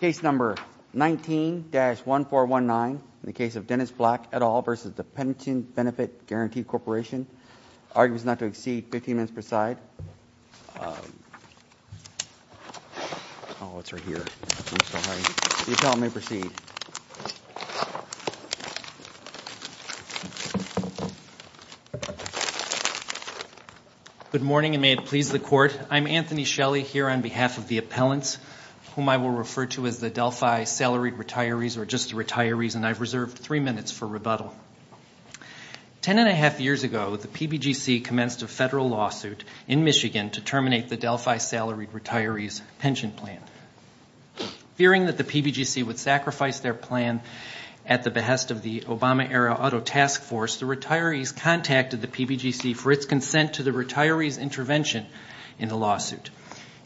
Case number 19-1419 in the case of Dennis Black et al. versus the Pension Benefit Guaranty Corporation. Argument is not to exceed 15 minutes per side. Oh, it's right here. I'm sorry. If you'll allow me to proceed. Good morning and may it please the court. I'm Anthony Shelley here on behalf of the appellants whom I will refer to as the Delphi salaried retirees or just the retirees and I've reserved three minutes for rebuttal. Ten and a half years ago, the PBGC commenced a federal lawsuit in Michigan to terminate the Delphi salaried retirees pension plan. Fearing that the PBGC would sacrifice their plan at the behest of the Obama era auto task force, the retirees contacted the PBGC for its consent to the retirees intervention in the lawsuit.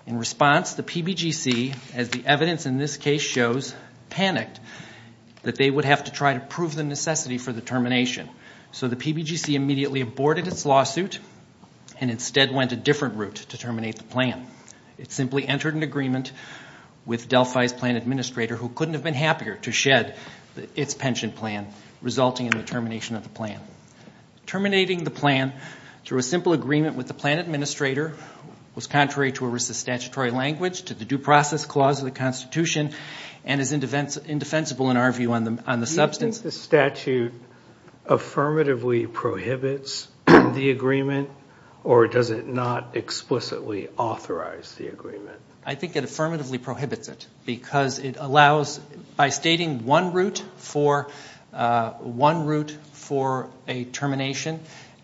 In response, the PBGC, as the evidence in this case shows, panicked that they would have to try to prove the necessity for the termination. So the PBGC immediately aborted its lawsuit and instead went a different route to terminate the plan. It simply entered an agreement with Delphi's plan administrator who couldn't have been happier to shed its pension plan resulting in the termination of the plan. Terminating the plan through a simple agreement with the plan administrator was contrary to a statutory language to the due process clause of the Constitution and is indefensible in our view on the substance. Do you think the statute affirmatively prohibits the agreement or does it not explicitly authorize the agreement? I think it affirmatively prohibits it because it allows, by stating one route for a termination,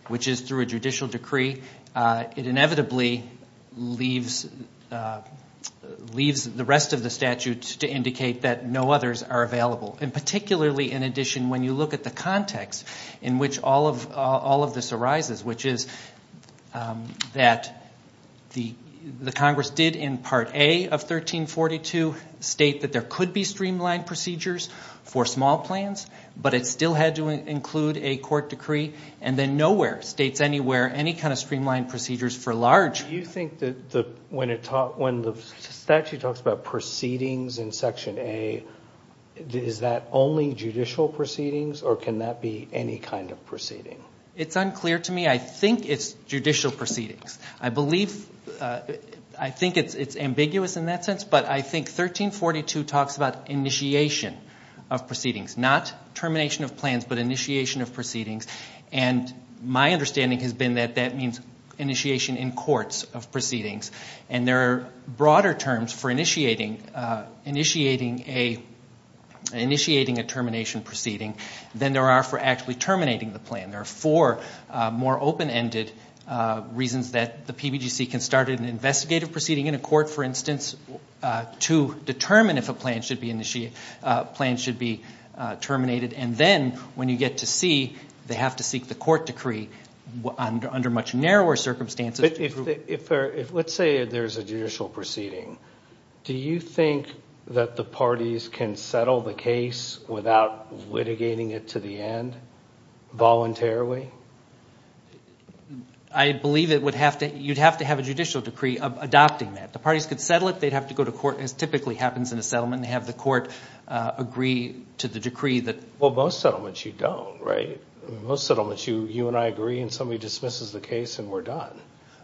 which is through a judicial decree, it inevitably leaves the rest of the statute to indicate that no others are available. And particularly, in addition, when you look at the context in which all of this arises, which is that the Congress did in Part A of 1342 state that there could be streamlined procedures for small plans, but it still had to include a court decree, and then nowhere states anywhere any kind of streamlined procedures for large. Do you think that when the statute talks about proceedings in Section A, is that only judicial proceedings or can that be any kind of proceeding? It's unclear to me. I think it's judicial proceedings. I think it's ambiguous in that sense, but I think 1342 talks about initiation of proceedings, not termination of plans, but initiation of proceedings. And my understanding has been that that means initiation in courts of proceedings. And there are broader terms for initiating a termination proceeding than there are for actually terminating the plan. There are four more open-ended reasons that the PBGC can start an investigative proceeding in a court, for instance, to determine if a plan should be terminated. And then when you get to C, they have to seek the court decree under much narrower circumstances. Let's say there's a judicial proceeding. Do you think that the parties can settle the case without litigating it to the end voluntarily? I believe you'd have to have a judicial decree adopting that. The parties could settle it. They'd have to go to court, as typically happens in a settlement, and have the court agree to the decree. Well, most settlements you don't, right? Most settlements you and I agree and somebody dismisses the case and we're done.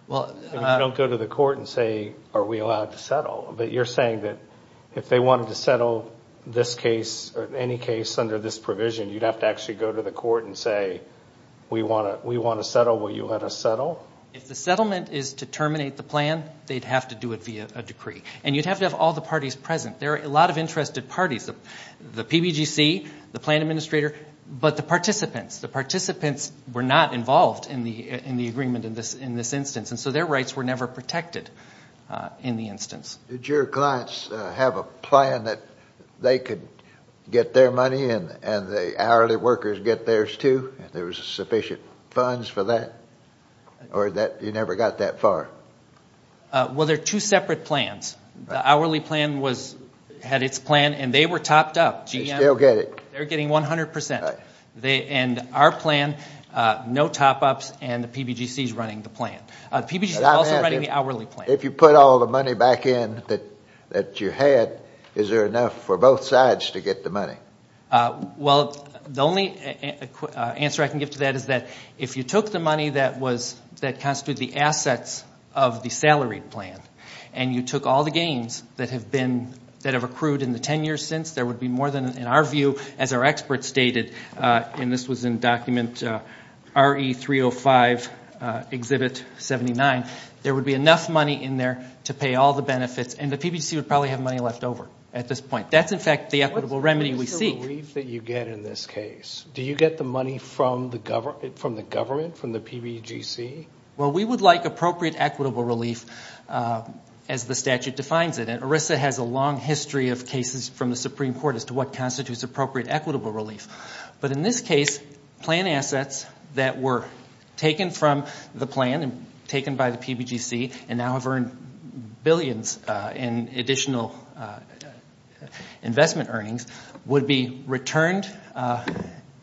You don't go to the court and say, are we allowed to settle? But you're saying that if they wanted to settle this case or any case under this provision, you'd have to actually go to the court and say, we want to settle, will you let us settle? If the settlement is to terminate the plan, they'd have to do it via a decree. And you'd have to have all the parties present. There are a lot of interested parties, the PBGC, the plan administrator, but the participants. The participants were not involved in the agreement in this instance, and so their rights were never protected in the instance. Did your clients have a plan that they could get their money and the hourly workers get theirs, too, if there was sufficient funds for that? Or you never got that far? Well, there are two separate plans. The hourly plan had its plan and they were topped up. They still get it. They're getting 100%. And our plan, no top-ups, and the PBGC is running the plan. The PBGC is also running the hourly plan. If you put all the money back in that you had, is there enough for both sides to get the money? Well, the only answer I can give to that is that if you took the money that constituted the assets of the salaried plan and you took all the gains that have accrued in the 10 years since, there would be more than, in our view, as our experts stated, and this was in Document RE305, Exhibit 79, there would be enough money in there to pay all the benefits, and the PBGC would probably have money left over at this point. That's, in fact, the equitable remedy we seek. What's the relief that you get in this case? Do you get the money from the government, from the PBGC? Well, we would like appropriate equitable relief as the statute defines it, and ERISA has a long history of cases from the Supreme Court as to what constitutes appropriate equitable relief. But in this case, plan assets that were taken from the plan and taken by the PBGC and now have earned billions in additional investment earnings would be returned.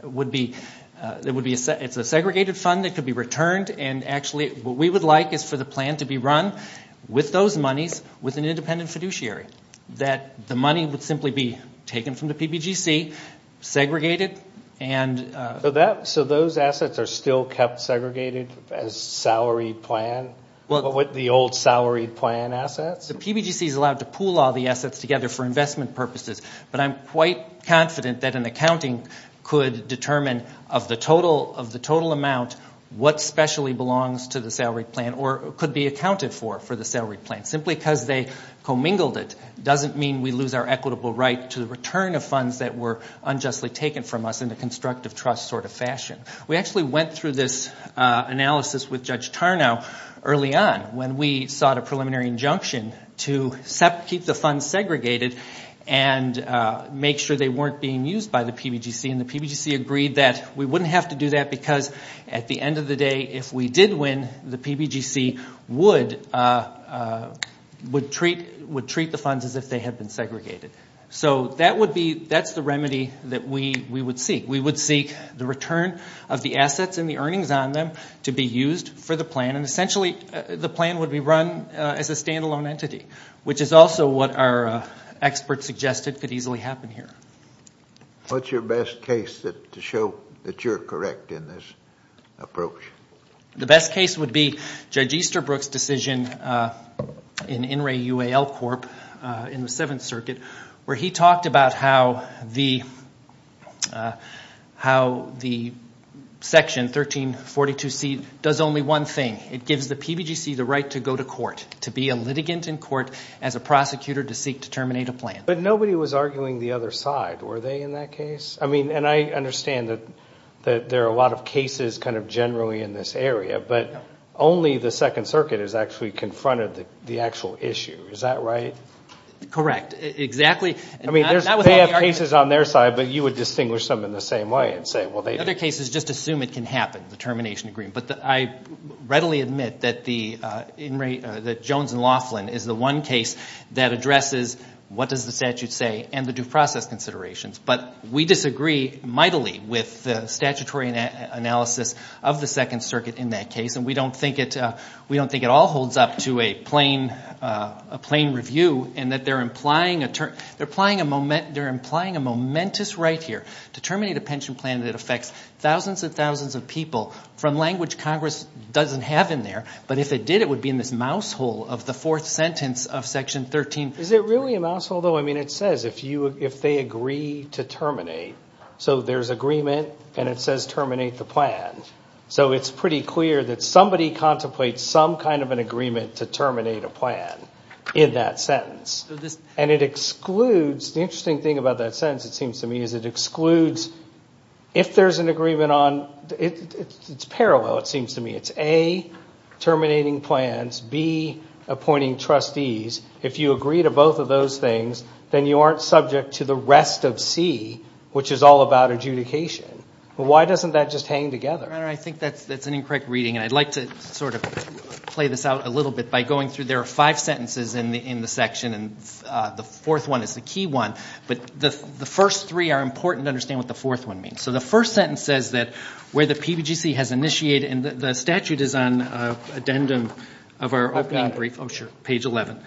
It's a segregated fund that could be returned, and actually what we would like is for the plan to be run with those monies, with an independent fiduciary, that the money would simply be taken from the PBGC, segregated, and… So those assets are still kept segregated as salary plan? With the old salary plan assets? The PBGC is allowed to pool all the assets together for investment purposes, but I'm quite confident that an accounting could determine of the total amount what specially belongs to the salary plan or could be accounted for for the salary plan. Simply because they commingled it doesn't mean we lose our equitable right to the return of funds that were unjustly taken from us in a constructive trust sort of fashion. We actually went through this analysis with Judge Tarnow early on when we sought a preliminary injunction to keep the funds segregated and make sure they weren't being used by the PBGC, and the PBGC agreed that we wouldn't have to do that because at the end of the day, if we did win, the PBGC would treat the funds as if they had been segregated. So that's the remedy that we would seek. We would seek the return of the assets and the earnings on them to be used for the plan, and essentially the plan would be run as a standalone entity, which is also what our experts suggested could easily happen here. What's your best case to show that you're correct in this approach? The best case would be Judge Easterbrook's decision in In re UAL Corp. in the Seventh Circuit where he talked about how the Section 1342C does only one thing. It gives the PBGC the right to go to court, to be a litigant in court as a prosecutor to seek to terminate a plan. But nobody was arguing the other side. Were they in that case? I mean, and I understand that there are a lot of cases kind of generally in this area, but only the Second Circuit has actually confronted the actual issue. Is that right? Correct. Exactly. I mean, they have cases on their side, but you would distinguish them in the same way and say, well, they didn't. Other cases just assume it can happen, the termination agreement. But I readily admit that Jones and Laughlin is the one case that addresses what does the statute say and the due process considerations. But we disagree mightily with the statutory analysis of the Second Circuit in that case, and we don't think it all holds up to a plain review in that they're implying a momentous right here to terminate a pension plan that affects thousands and thousands of people from language Congress doesn't have in there. But if it did, it would be in this mousehole of the fourth sentence of Section 13. Is it really a mousehole, though? I mean, it says if they agree to terminate. So there's agreement, and it says terminate the plan. So it's pretty clear that somebody contemplates some kind of an agreement to terminate a plan in that sentence. And it excludes, the interesting thing about that sentence, it seems to me, is it excludes if there's an agreement on, it's parallel, it seems to me. It's A, terminating plans, B, appointing trustees. If you agree to both of those things, then you aren't subject to the rest of C, which is all about adjudication. Why doesn't that just hang together? I think that's an incorrect reading, and I'd like to sort of play this out a little bit by going through. There are five sentences in the section, and the fourth one is the key one. But the first three are important to understand what the fourth one means. So the first sentence says that where the PBGC has initiated, and the statute is on addendum of our opening brief. Oh, sure. Page 11.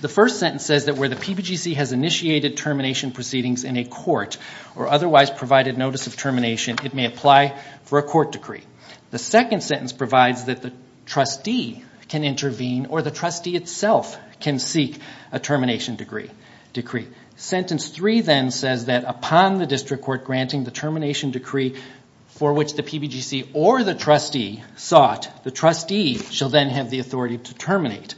The first sentence says that where the PBGC has initiated termination proceedings in a court or otherwise provided notice of termination, it may apply for a court decree. The second sentence provides that the trustee can intervene or the trustee itself can seek a termination decree. Sentence three then says that upon the district court granting the termination decree for which the PBGC or the trustee sought, the trustee shall then have the authority to terminate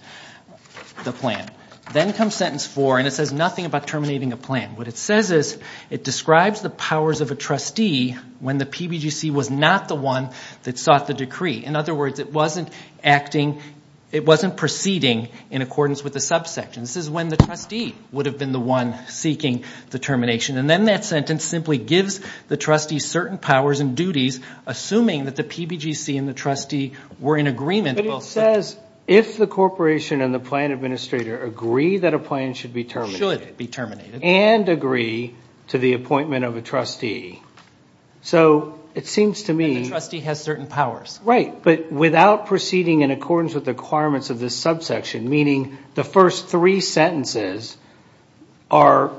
the plan. Then comes sentence four, and it says nothing about terminating a plan. What it says is it describes the powers of a trustee when the PBGC was not the one that sought the decree. In other words, it wasn't acting, it wasn't proceeding in accordance with the subsection. This is when the trustee would have been the one seeking the termination. And then that sentence simply gives the trustee certain powers and duties, assuming that the PBGC and the trustee were in agreement. But it says if the corporation and the plan administrator agree that a plan should be terminated. Should be terminated. And agree to the appointment of a trustee. So it seems to me. And the trustee has certain powers. Right, but without proceeding in accordance with the requirements of this subsection, meaning the first three sentences are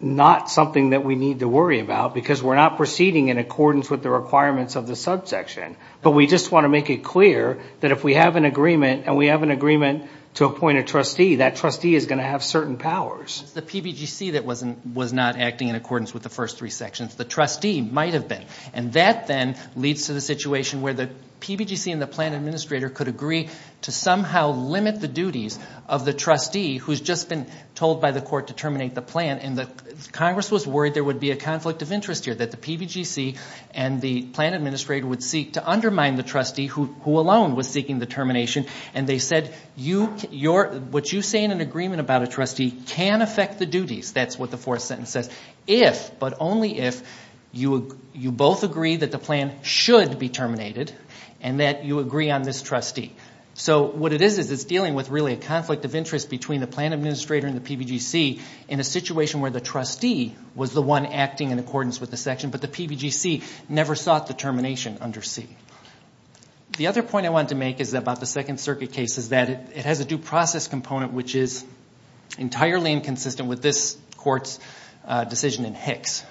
not something that we need to worry about because we're not proceeding in accordance with the requirements of the subsection. But we just want to make it clear that if we have an agreement and we have an agreement to appoint a trustee, that trustee is going to have certain powers. It's the PBGC that was not acting in accordance with the first three sections. The trustee might have been. And that then leads to the situation where the PBGC and the plan administrator could agree to somehow limit the duties of the trustee, who's just been told by the court to terminate the plan. And Congress was worried there would be a conflict of interest here, that the PBGC and the plan administrator would seek to undermine the trustee who alone was seeking the termination. And they said, what you say in an agreement about a trustee can affect the duties. That's what the fourth sentence says. If, but only if, you both agree that the plan should be terminated and that you agree on this trustee. So what it is is it's dealing with really a conflict of interest between the plan administrator and the PBGC in a situation where the trustee was the one acting in accordance with the section, but the PBGC never sought the termination under C. The other point I wanted to make is about the Second Circuit case is that it has a due process component, which is entirely inconsistent with this court's decision in Hicks.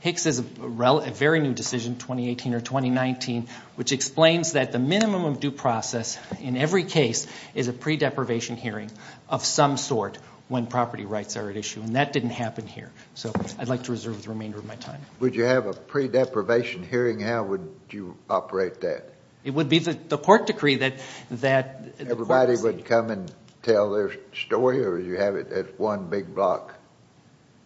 Hicks is a very new decision, 2018 or 2019, which explains that the minimum of due process in every case is a pre-deprivation hearing of some sort when property rights are at issue, and that didn't happen here. So I'd like to reserve the remainder of my time. Would you have a pre-deprivation hearing? How would you operate that? It would be the court decree that the court would see. Would you tell their story or would you have it as one big block?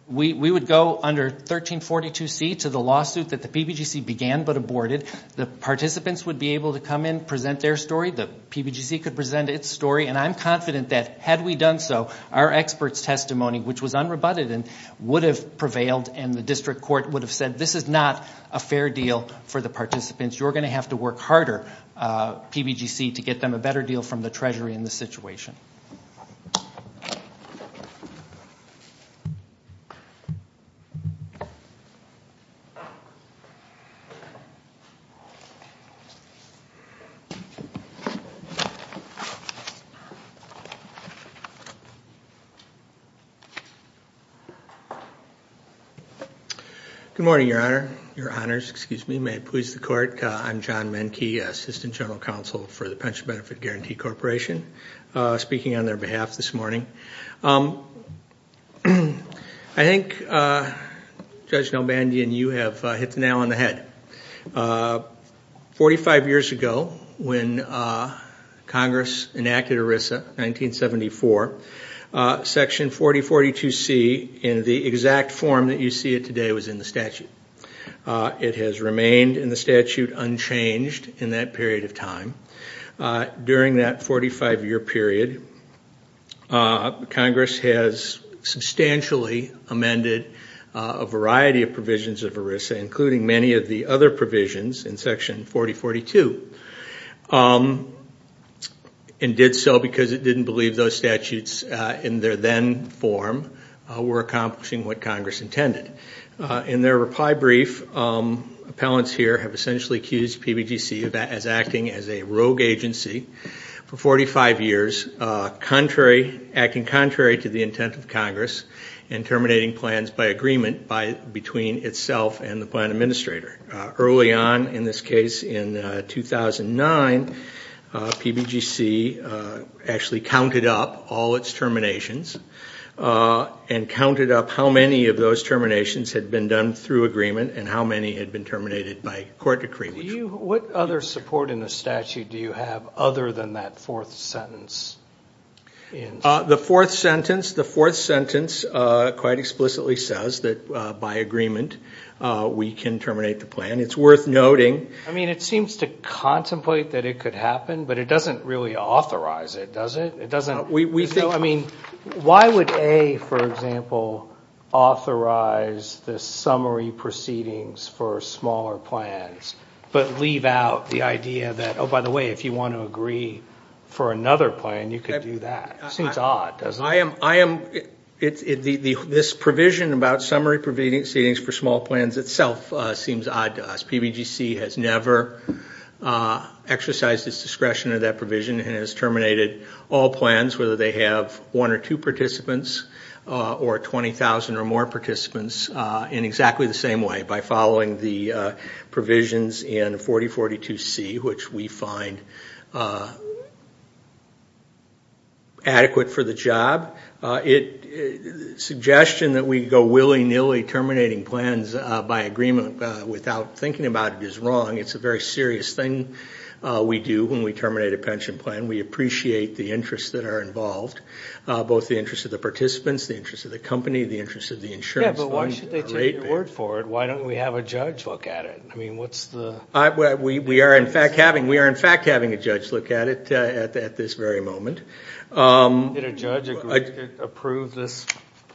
We would go under 1342C to the lawsuit that the PBGC began but aborted. The participants would be able to come in, present their story. The PBGC could present its story, and I'm confident that had we done so, our experts' testimony, which was unrebutted and would have prevailed and the district court would have said this is not a fair deal for the participants. You're going to have to work harder, PBGC, to get them a better deal from the Treasury in this situation. Thank you, Your Honor. Your Honors, excuse me, may it please the court. I'm John Menke, Assistant General Counsel for the Pension Benefit Guarantee Corporation, speaking on their behalf this morning. I think Judge Nelbandi and you have hit the nail on the head. Forty-five years ago when Congress enacted ERISA, 1974, Section 4042C in the exact form that you see it today was in the statute. It has remained in the statute unchanged in that period of time. During that 45-year period, Congress has substantially amended a variety of provisions of ERISA, including many of the other provisions in Section 4042, and did so because it didn't believe those statutes in their then form were accomplishing what Congress intended. In their reply brief, appellants here have essentially accused PBGC of acting as a rogue agency for 45 years, acting contrary to the intent of Congress and terminating plans by agreement between itself and the plan administrator. Early on, in this case in 2009, PBGC actually counted up all its terminations and counted up how many of those terminations had been done through agreement and how many had been terminated by court decree. What other support in the statute do you have other than that fourth sentence? The fourth sentence quite explicitly says that by agreement we can terminate the plan. It's worth noting. It seems to contemplate that it could happen, but it doesn't really authorize it, does it? Why would A, for example, authorize the summary proceedings for smaller plans, but leave out the idea that, oh, by the way, if you want to agree for another plan, you could do that? It seems odd, doesn't it? This provision about summary proceedings for small plans itself seems odd to us. PBGC has never exercised its discretion in that provision and has terminated all plans, whether they have one or two participants or 20,000 or more participants, in exactly the same way, by following the provisions in 4042C, which we find adequate for the job. The suggestion that we go willy-nilly terminating plans by agreement without thinking about it is wrong. It's a very serious thing we do when we terminate a pension plan. We appreciate the interests that are involved, both the interests of the participants, the interests of the company, the interests of the insurance fund. Yeah, but why should they take your word for it? Why don't we have a judge look at it? We are, in fact, having a judge look at it at this very moment. Did a judge agree to approve this?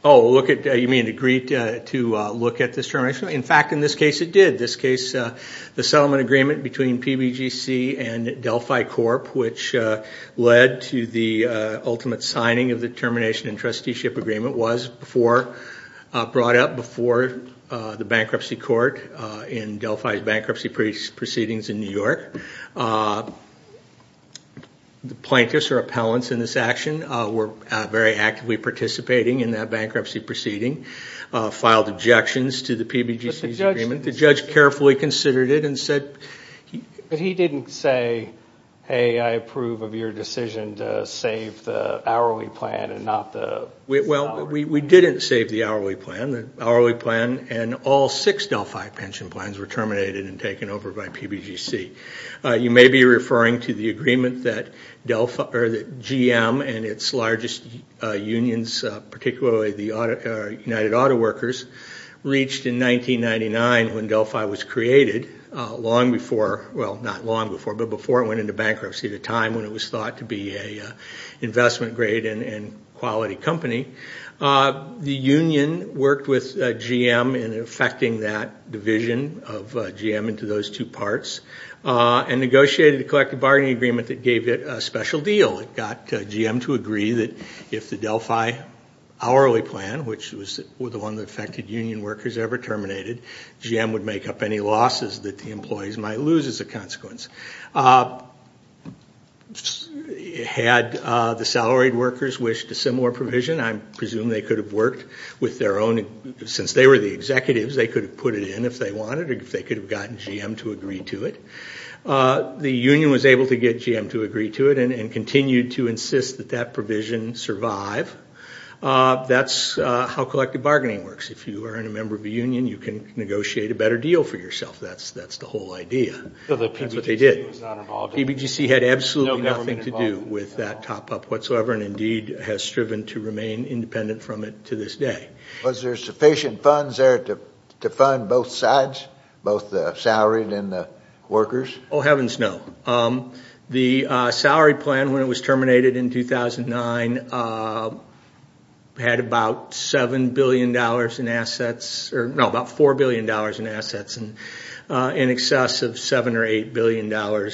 Oh, you mean agree to look at this termination? In fact, in this case, it did. In this case, the settlement agreement between PBGC and Delphi Corp., which led to the ultimate signing of the termination and trusteeship agreement, was brought up before the bankruptcy court in Delphi's bankruptcy proceedings in New York. The plaintiffs or appellants in this action were very actively participating in that bankruptcy proceeding, filed objections to the PBGC's agreement. The judge carefully considered it and said he – But he didn't say, hey, I approve of your decision to save the hourly plan and not the – Well, we didn't save the hourly plan. The hourly plan and all six Delphi pension plans were terminated and taken over by PBGC. You may be referring to the agreement that GM and its largest unions, particularly the United Auto Workers, reached in 1999 when Delphi was created, long before – well, not long before, but before it went into bankruptcy, at a time when it was thought to be an investment-grade and quality company. The union worked with GM in effecting that division of GM into those two parts and negotiated a collective bargaining agreement that gave it a special deal. It got GM to agree that if the Delphi hourly plan, which was the one that affected union workers, ever terminated, GM would make up any losses that the employees might lose as a consequence. Had the salaried workers wished a similar provision, I presume they could have worked with their own – since they were the executives, they could have put it in if they wanted or if they could have gotten GM to agree to it. The union was able to get GM to agree to it and continued to insist that that provision survive. That's how collective bargaining works. If you are a member of a union, you can negotiate a better deal for yourself. That's the whole idea. That's what they did. PBGC had absolutely nothing to do with that top-up whatsoever and indeed has striven to remain independent from it to this day. Was there sufficient funds there to fund both sides, both the salaried and the workers? Oh, heavens no. The salary plan, when it was terminated in 2009, had about $7 billion in assets – no, about $4 billion in assets in excess of $7 or $8 billion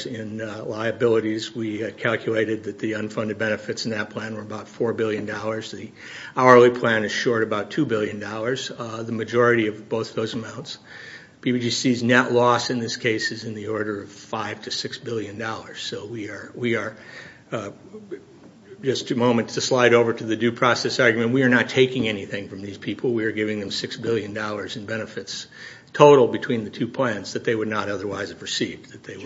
in liabilities. We calculated that the unfunded benefits in that plan were about $4 billion. The hourly plan is short about $2 billion, the majority of both those amounts. PBGC's net loss in this case is in the order of $5 to $6 billion. So we are – just a moment to slide over to the due process argument. We are not taking anything from these people. We are giving them $6 billion in benefits total between the two plans that they would not otherwise have received. That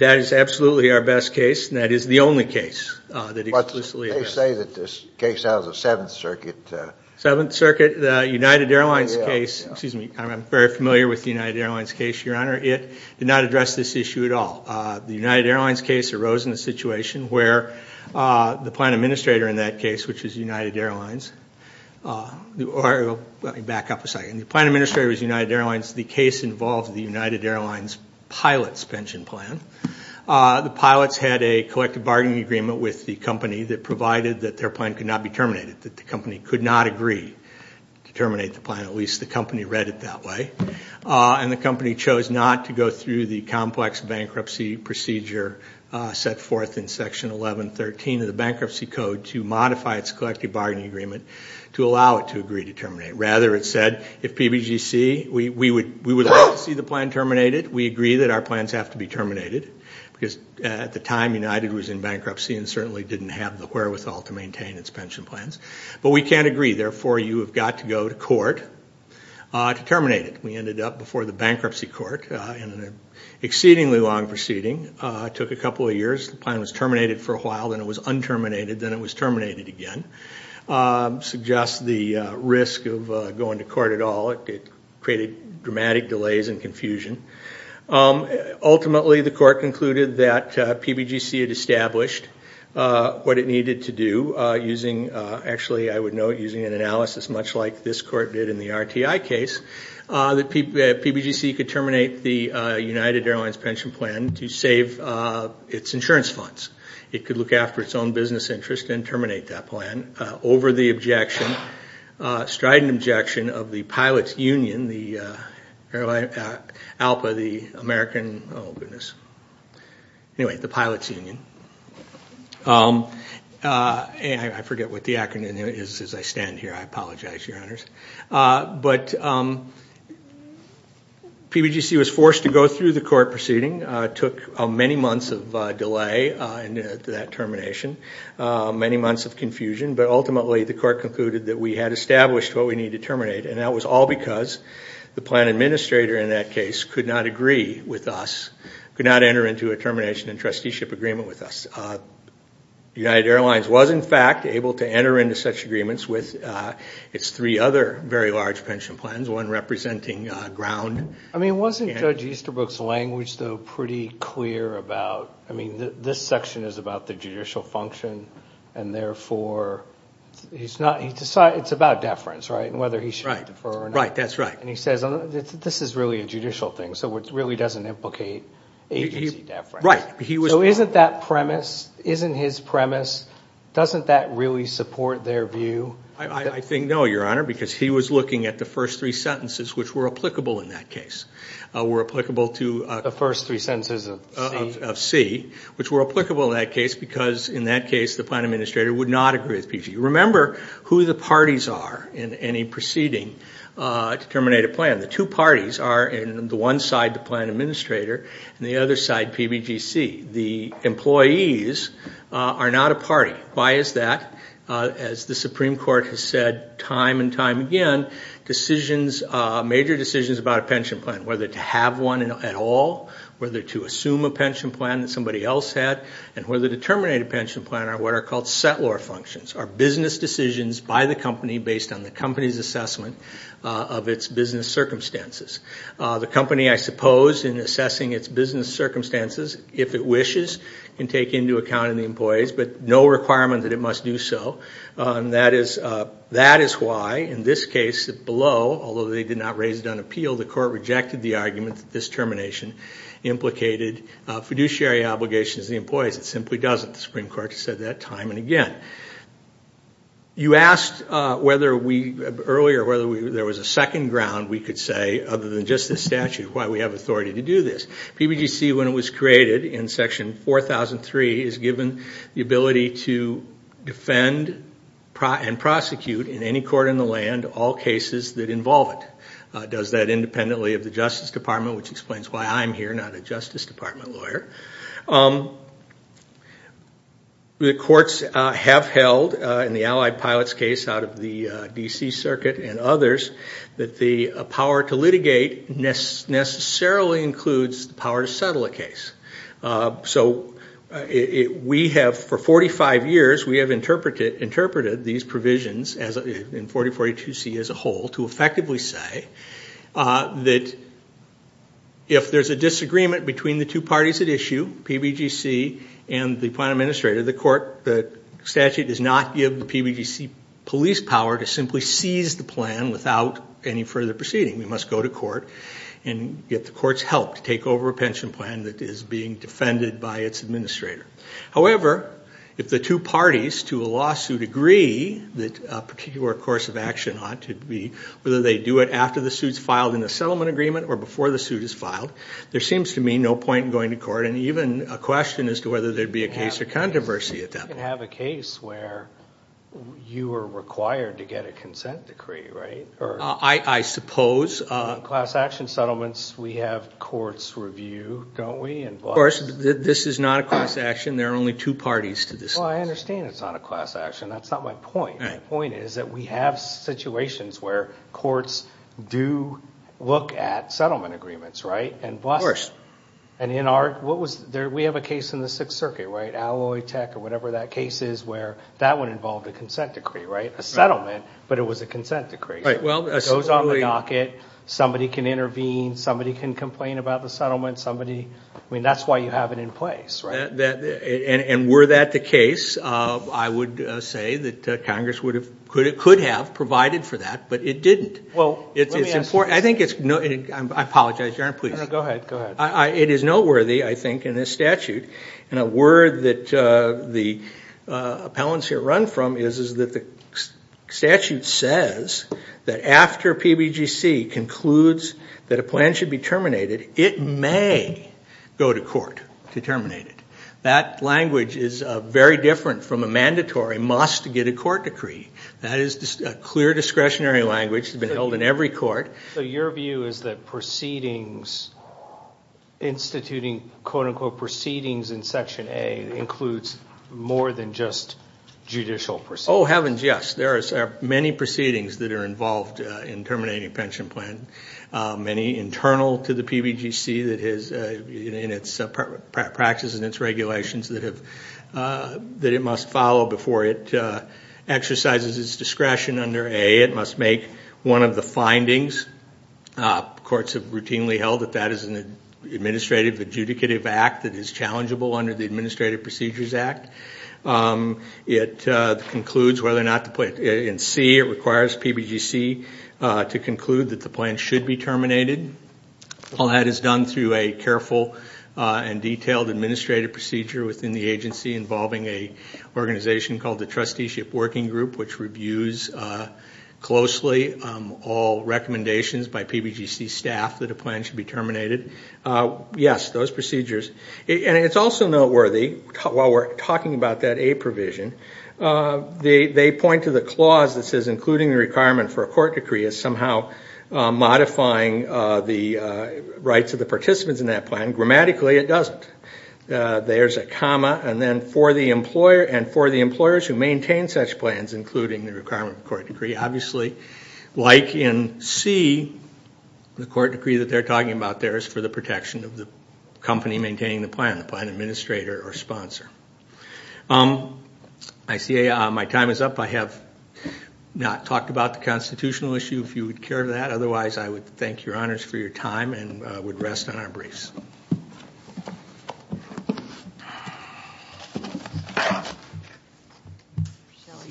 is absolutely our best case, and that is the only case that explicitly – They say that this case has a Seventh Circuit – Seventh Circuit, the United Airlines case – excuse me, I'm very familiar with the United Airlines case, Your Honor. It did not address this issue at all. The United Airlines case arose in a situation where the plan administrator in that case, which is United Airlines – let me back up a second. The plan administrator was United Airlines. The case involved the United Airlines pilot's pension plan. The pilots had a collective bargaining agreement with the company that provided that their plan could not be terminated, that the company could not agree to terminate the plan, at least the company read it that way. And the company chose not to go through the complex bankruptcy procedure set forth in Section 1113 of the Bankruptcy Code to modify its collective bargaining agreement to allow it to agree to terminate. Rather, it said, if PBGC – we would like to see the plan terminated. We agree that our plans have to be terminated, because at the time United was in bankruptcy and certainly didn't have the wherewithal to maintain its pension plans. But we can't agree, therefore you have got to go to court to terminate it. We ended up before the bankruptcy court in an exceedingly long proceeding. It took a couple of years. The plan was terminated for a while, then it was unterminated, then it was terminated again. Suggests the risk of going to court at all. It created dramatic delays and confusion. Ultimately, the court concluded that PBGC had established what it needed to do using – actually, I would note, using an analysis much like this court did in the RTI case, that PBGC could terminate the United Airlines pension plan to save its insurance funds. It could look after its own business interests and terminate that plan over the objection, strident objection, of the Pilots Union, ALPA, the American – oh, goodness. Anyway, the Pilots Union. I forget what the acronym is as I stand here. I apologize, Your Honors. But PBGC was forced to go through the court proceeding. It took many months of delay to that termination, many months of confusion, but ultimately the court concluded that we had established what we needed to terminate, and that was all because the plan administrator in that case could not agree with us, could not enter into a termination and trusteeship agreement with us. United Airlines was, in fact, able to enter into such agreements with its three other very large pension plans, one representing ground. I mean, wasn't Judge Easterbrook's language, though, pretty clear about – I mean, this section is about the judicial function, and therefore he's not – it's about deference, right, and whether he should defer or not. Right, that's right. And he says this is really a judicial thing, so it really doesn't implicate agency deference. Right. So isn't that premise – isn't his premise – doesn't that really support their view? I think no, Your Honor, because he was looking at the first three sentences which were applicable in that case, were applicable to – The first three sentences of C. Of C, which were applicable in that case because, in that case, the plan administrator would not agree with PBGC. Remember who the parties are in any proceeding to terminate a plan. The two parties are the one side, the plan administrator, and the other side, PBGC. The employees are not a party. Why is that? As the Supreme Court has said time and time again, decisions – major decisions about a pension plan, whether to have one at all, whether to assume a pension plan that somebody else had, and whether to terminate a pension plan are what are called settlor functions, are business decisions by the company based on the company's assessment of its business circumstances. The company, I suppose, in assessing its business circumstances, if it wishes, can take into account the employees, but no requirement that it must do so. That is why, in this case, below, although they did not raise it on appeal, the Court rejected the argument that this termination implicated fiduciary obligations to the employees. It simply doesn't. The Supreme Court has said that time and again. You asked earlier whether there was a second ground we could say, other than just this statute, why we have authority to do this. PBGC, when it was created in Section 4003, is given the ability to defend and prosecute in any court in the land all cases that involve it. It does that independently of the Justice Department, which explains why I'm here, not a Justice Department lawyer. The courts have held, in the Allied Pilots case out of the D.C. Circuit and others, that the power to litigate necessarily includes the power to settle a case. So we have, for 45 years, we have interpreted these provisions in 4042C as a whole to effectively say that if there's a disagreement between the two parties at issue, PBGC and the plan administrator, the statute does not give the PBGC police power to simply seize the plan without any further proceeding. We must go to court and get the court's help to take over a pension plan that is being defended by its administrator. However, if the two parties to a lawsuit agree that a particular course of action ought to be, whether they do it after the suit is filed in the settlement agreement or before the suit is filed, there seems to me no point in going to court, and even a question as to whether there would be a case or controversy at that point. You didn't have a case where you were required to get a consent decree, right? I suppose. In class action settlements, we have courts review, don't we? Of course. This is not a class action. There are only two parties to this. Well, I understand it's not a class action. That's not my point. My point is that we have situations where courts do look at settlement agreements, right? Of course. We have a case in the Sixth Circuit, right? Alloy Tech or whatever that case is where that one involved a consent decree, right? A settlement, but it was a consent decree. It goes on the docket. Somebody can intervene. Somebody can complain about the settlement. I mean, that's why you have it in place, right? And were that the case, I would say that Congress could have provided for that, but it didn't. Well, let me ask you this. I apologize, Your Honor, please. No, no. Go ahead. Go ahead. It is noteworthy, I think, in this statute. And a word that the appellants here run from is that the statute says that after PBGC concludes that a plan should be terminated, it may go to court to terminate it. That language is very different from a mandatory must-get-a-court decree. That is a clear discretionary language that's been held in every court. So your view is that proceedings, instituting, quote-unquote, proceedings in Section A, includes more than just judicial proceedings? Oh, heavens, yes. There are many proceedings that are involved in terminating a pension plan, many internal to the PBGC in its practice and its regulations that it must follow before it exercises its discretion under A. It must make one of the findings. Courts have routinely held that that is an administrative adjudicative act that is challengeable under the Administrative Procedures Act. It concludes whether or not to put it in C. It requires PBGC to conclude that the plan should be terminated. All that is done through a careful and detailed administrative procedure within the agency involving an organization called the Trusteeship Working Group, which reviews closely all recommendations by PBGC staff that a plan should be terminated. Yes, those procedures. And it's also noteworthy, while we're talking about that A provision, they point to the clause that says, including the requirement for a court decree is somehow modifying the rights of the participants in that plan. Grammatically, it doesn't. There's a comma, and then, for the employer and for the employers who maintain such plans, including the requirement for a court decree. Obviously, like in C, the court decree that they're talking about there is for the protection of the company maintaining the plan, the plan administrator or sponsor. I see my time is up. I have not talked about the constitutional issue, if you would care to that. Otherwise, I would thank your honors for your time and would rest on our brace.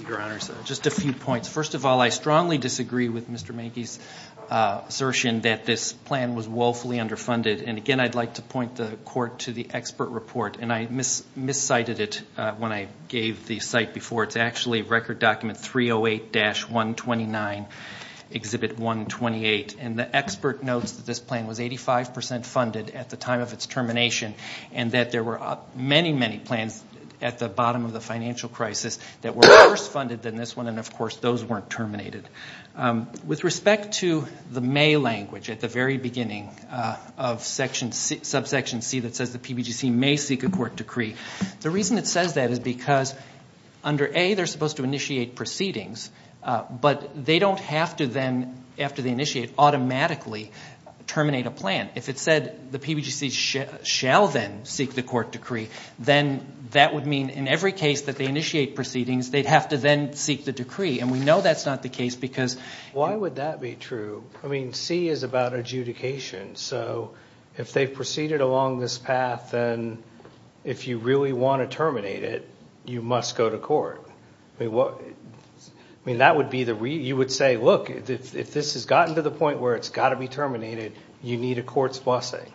Your honors, just a few points. First of all, I strongly disagree with Mr. Manky's assertion that this plan was woefully underfunded. And again, I'd like to point the court to the expert report. And I miscited it when I gave the site before. It's actually Record Document 308-129, Exhibit 128. And the expert notes that this plan was 85 percent funded at the time of its termination, and that there were many, many plans at the bottom of the financial crisis that were worse funded than this one. And, of course, those weren't terminated. With respect to the may language at the very beginning of subsection C that says the PBGC may seek a court decree, the reason it says that is because under A, they're supposed to initiate proceedings, but they don't have to then, after they initiate, automatically terminate a plan. If it said the PBGC shall then seek the court decree, then that would mean in every case that they initiate proceedings, they'd have to then seek the decree. And we know that's not the case because- Why would that be true? I mean, C is about adjudication. So if they've proceeded along this path, then if you really want to terminate it, you must go to court. I mean, that would be the reason. You would say, look, if this has gotten to the point where it's got to be terminated, you need a court's blessing.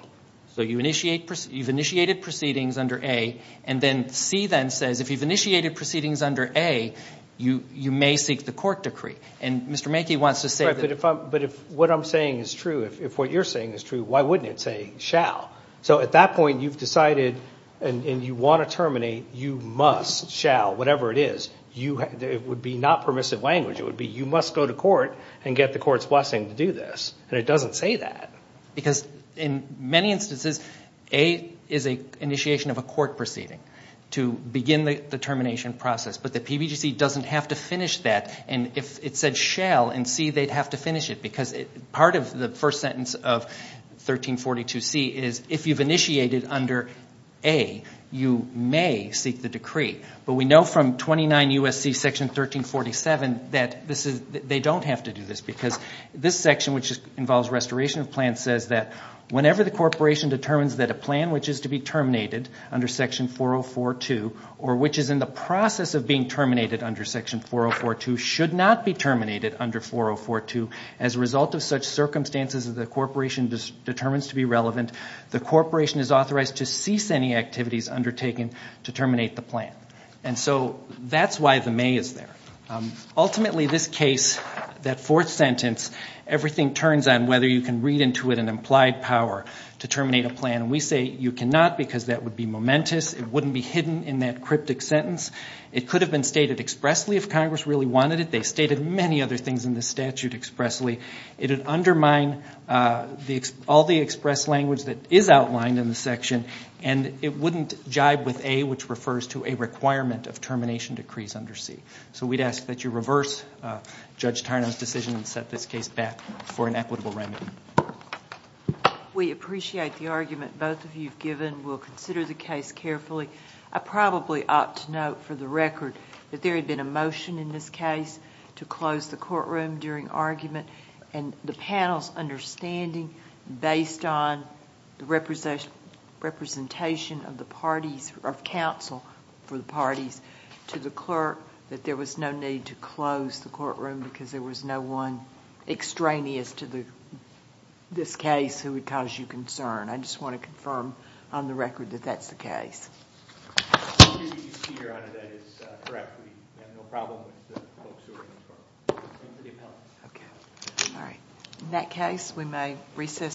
So you've initiated proceedings under A. And then C then says, if you've initiated proceedings under A, you may seek the court decree. And Mr. Mackey wants to say- But if what I'm saying is true, if what you're saying is true, why wouldn't it say shall? So at that point, you've decided and you want to terminate, you must, shall, whatever it is. It would be not permissive language. It would be you must go to court and get the court's blessing to do this. And it doesn't say that. Because in many instances, A is an initiation of a court proceeding to begin the termination process. But the PBGC doesn't have to finish that. And if it said shall in C, they'd have to finish it. Because part of the first sentence of 1342C is if you've initiated under A, you may seek the decree. But we know from 29 U.S.C. Section 1347 that they don't have to do this. Because this section, which involves restoration of plans, says that whenever the corporation determines that a plan which is to be terminated under Section 4042, or which is in the process of being terminated under Section 4042, should not be terminated under 4042, as a result of such circumstances as the corporation determines to be relevant, the corporation is authorized to cease any activities undertaken to terminate the plan. And so that's why the may is there. Ultimately, this case, that fourth sentence, everything turns on whether you can read into it an implied power to terminate a plan. And we say you cannot because that would be momentous. It wouldn't be hidden in that cryptic sentence. It could have been stated expressly if Congress really wanted it. They stated many other things in the statute expressly. It would undermine all the express language that is outlined in the section. And it wouldn't jibe with A, which refers to a requirement of termination decrees under C. So we'd ask that you reverse Judge Tarnum's decision and set this case back for an equitable remedy. We appreciate the argument both of you have given. We'll consider the case carefully. I probably ought to note for the record that there had been a motion in this case to close the courtroom during argument, and the panel's understanding based on the representation of the parties, or of counsel for the parties, to the clerk that there was no need to close the courtroom because there was no one extraneous to this case who would cause you concern. I just want to confirm on the record that that's the case. The excuse you see here under that is correct. We have no problem with the folks who are in this courtroom, including the appellants. Okay. All right. In that case, we may recess.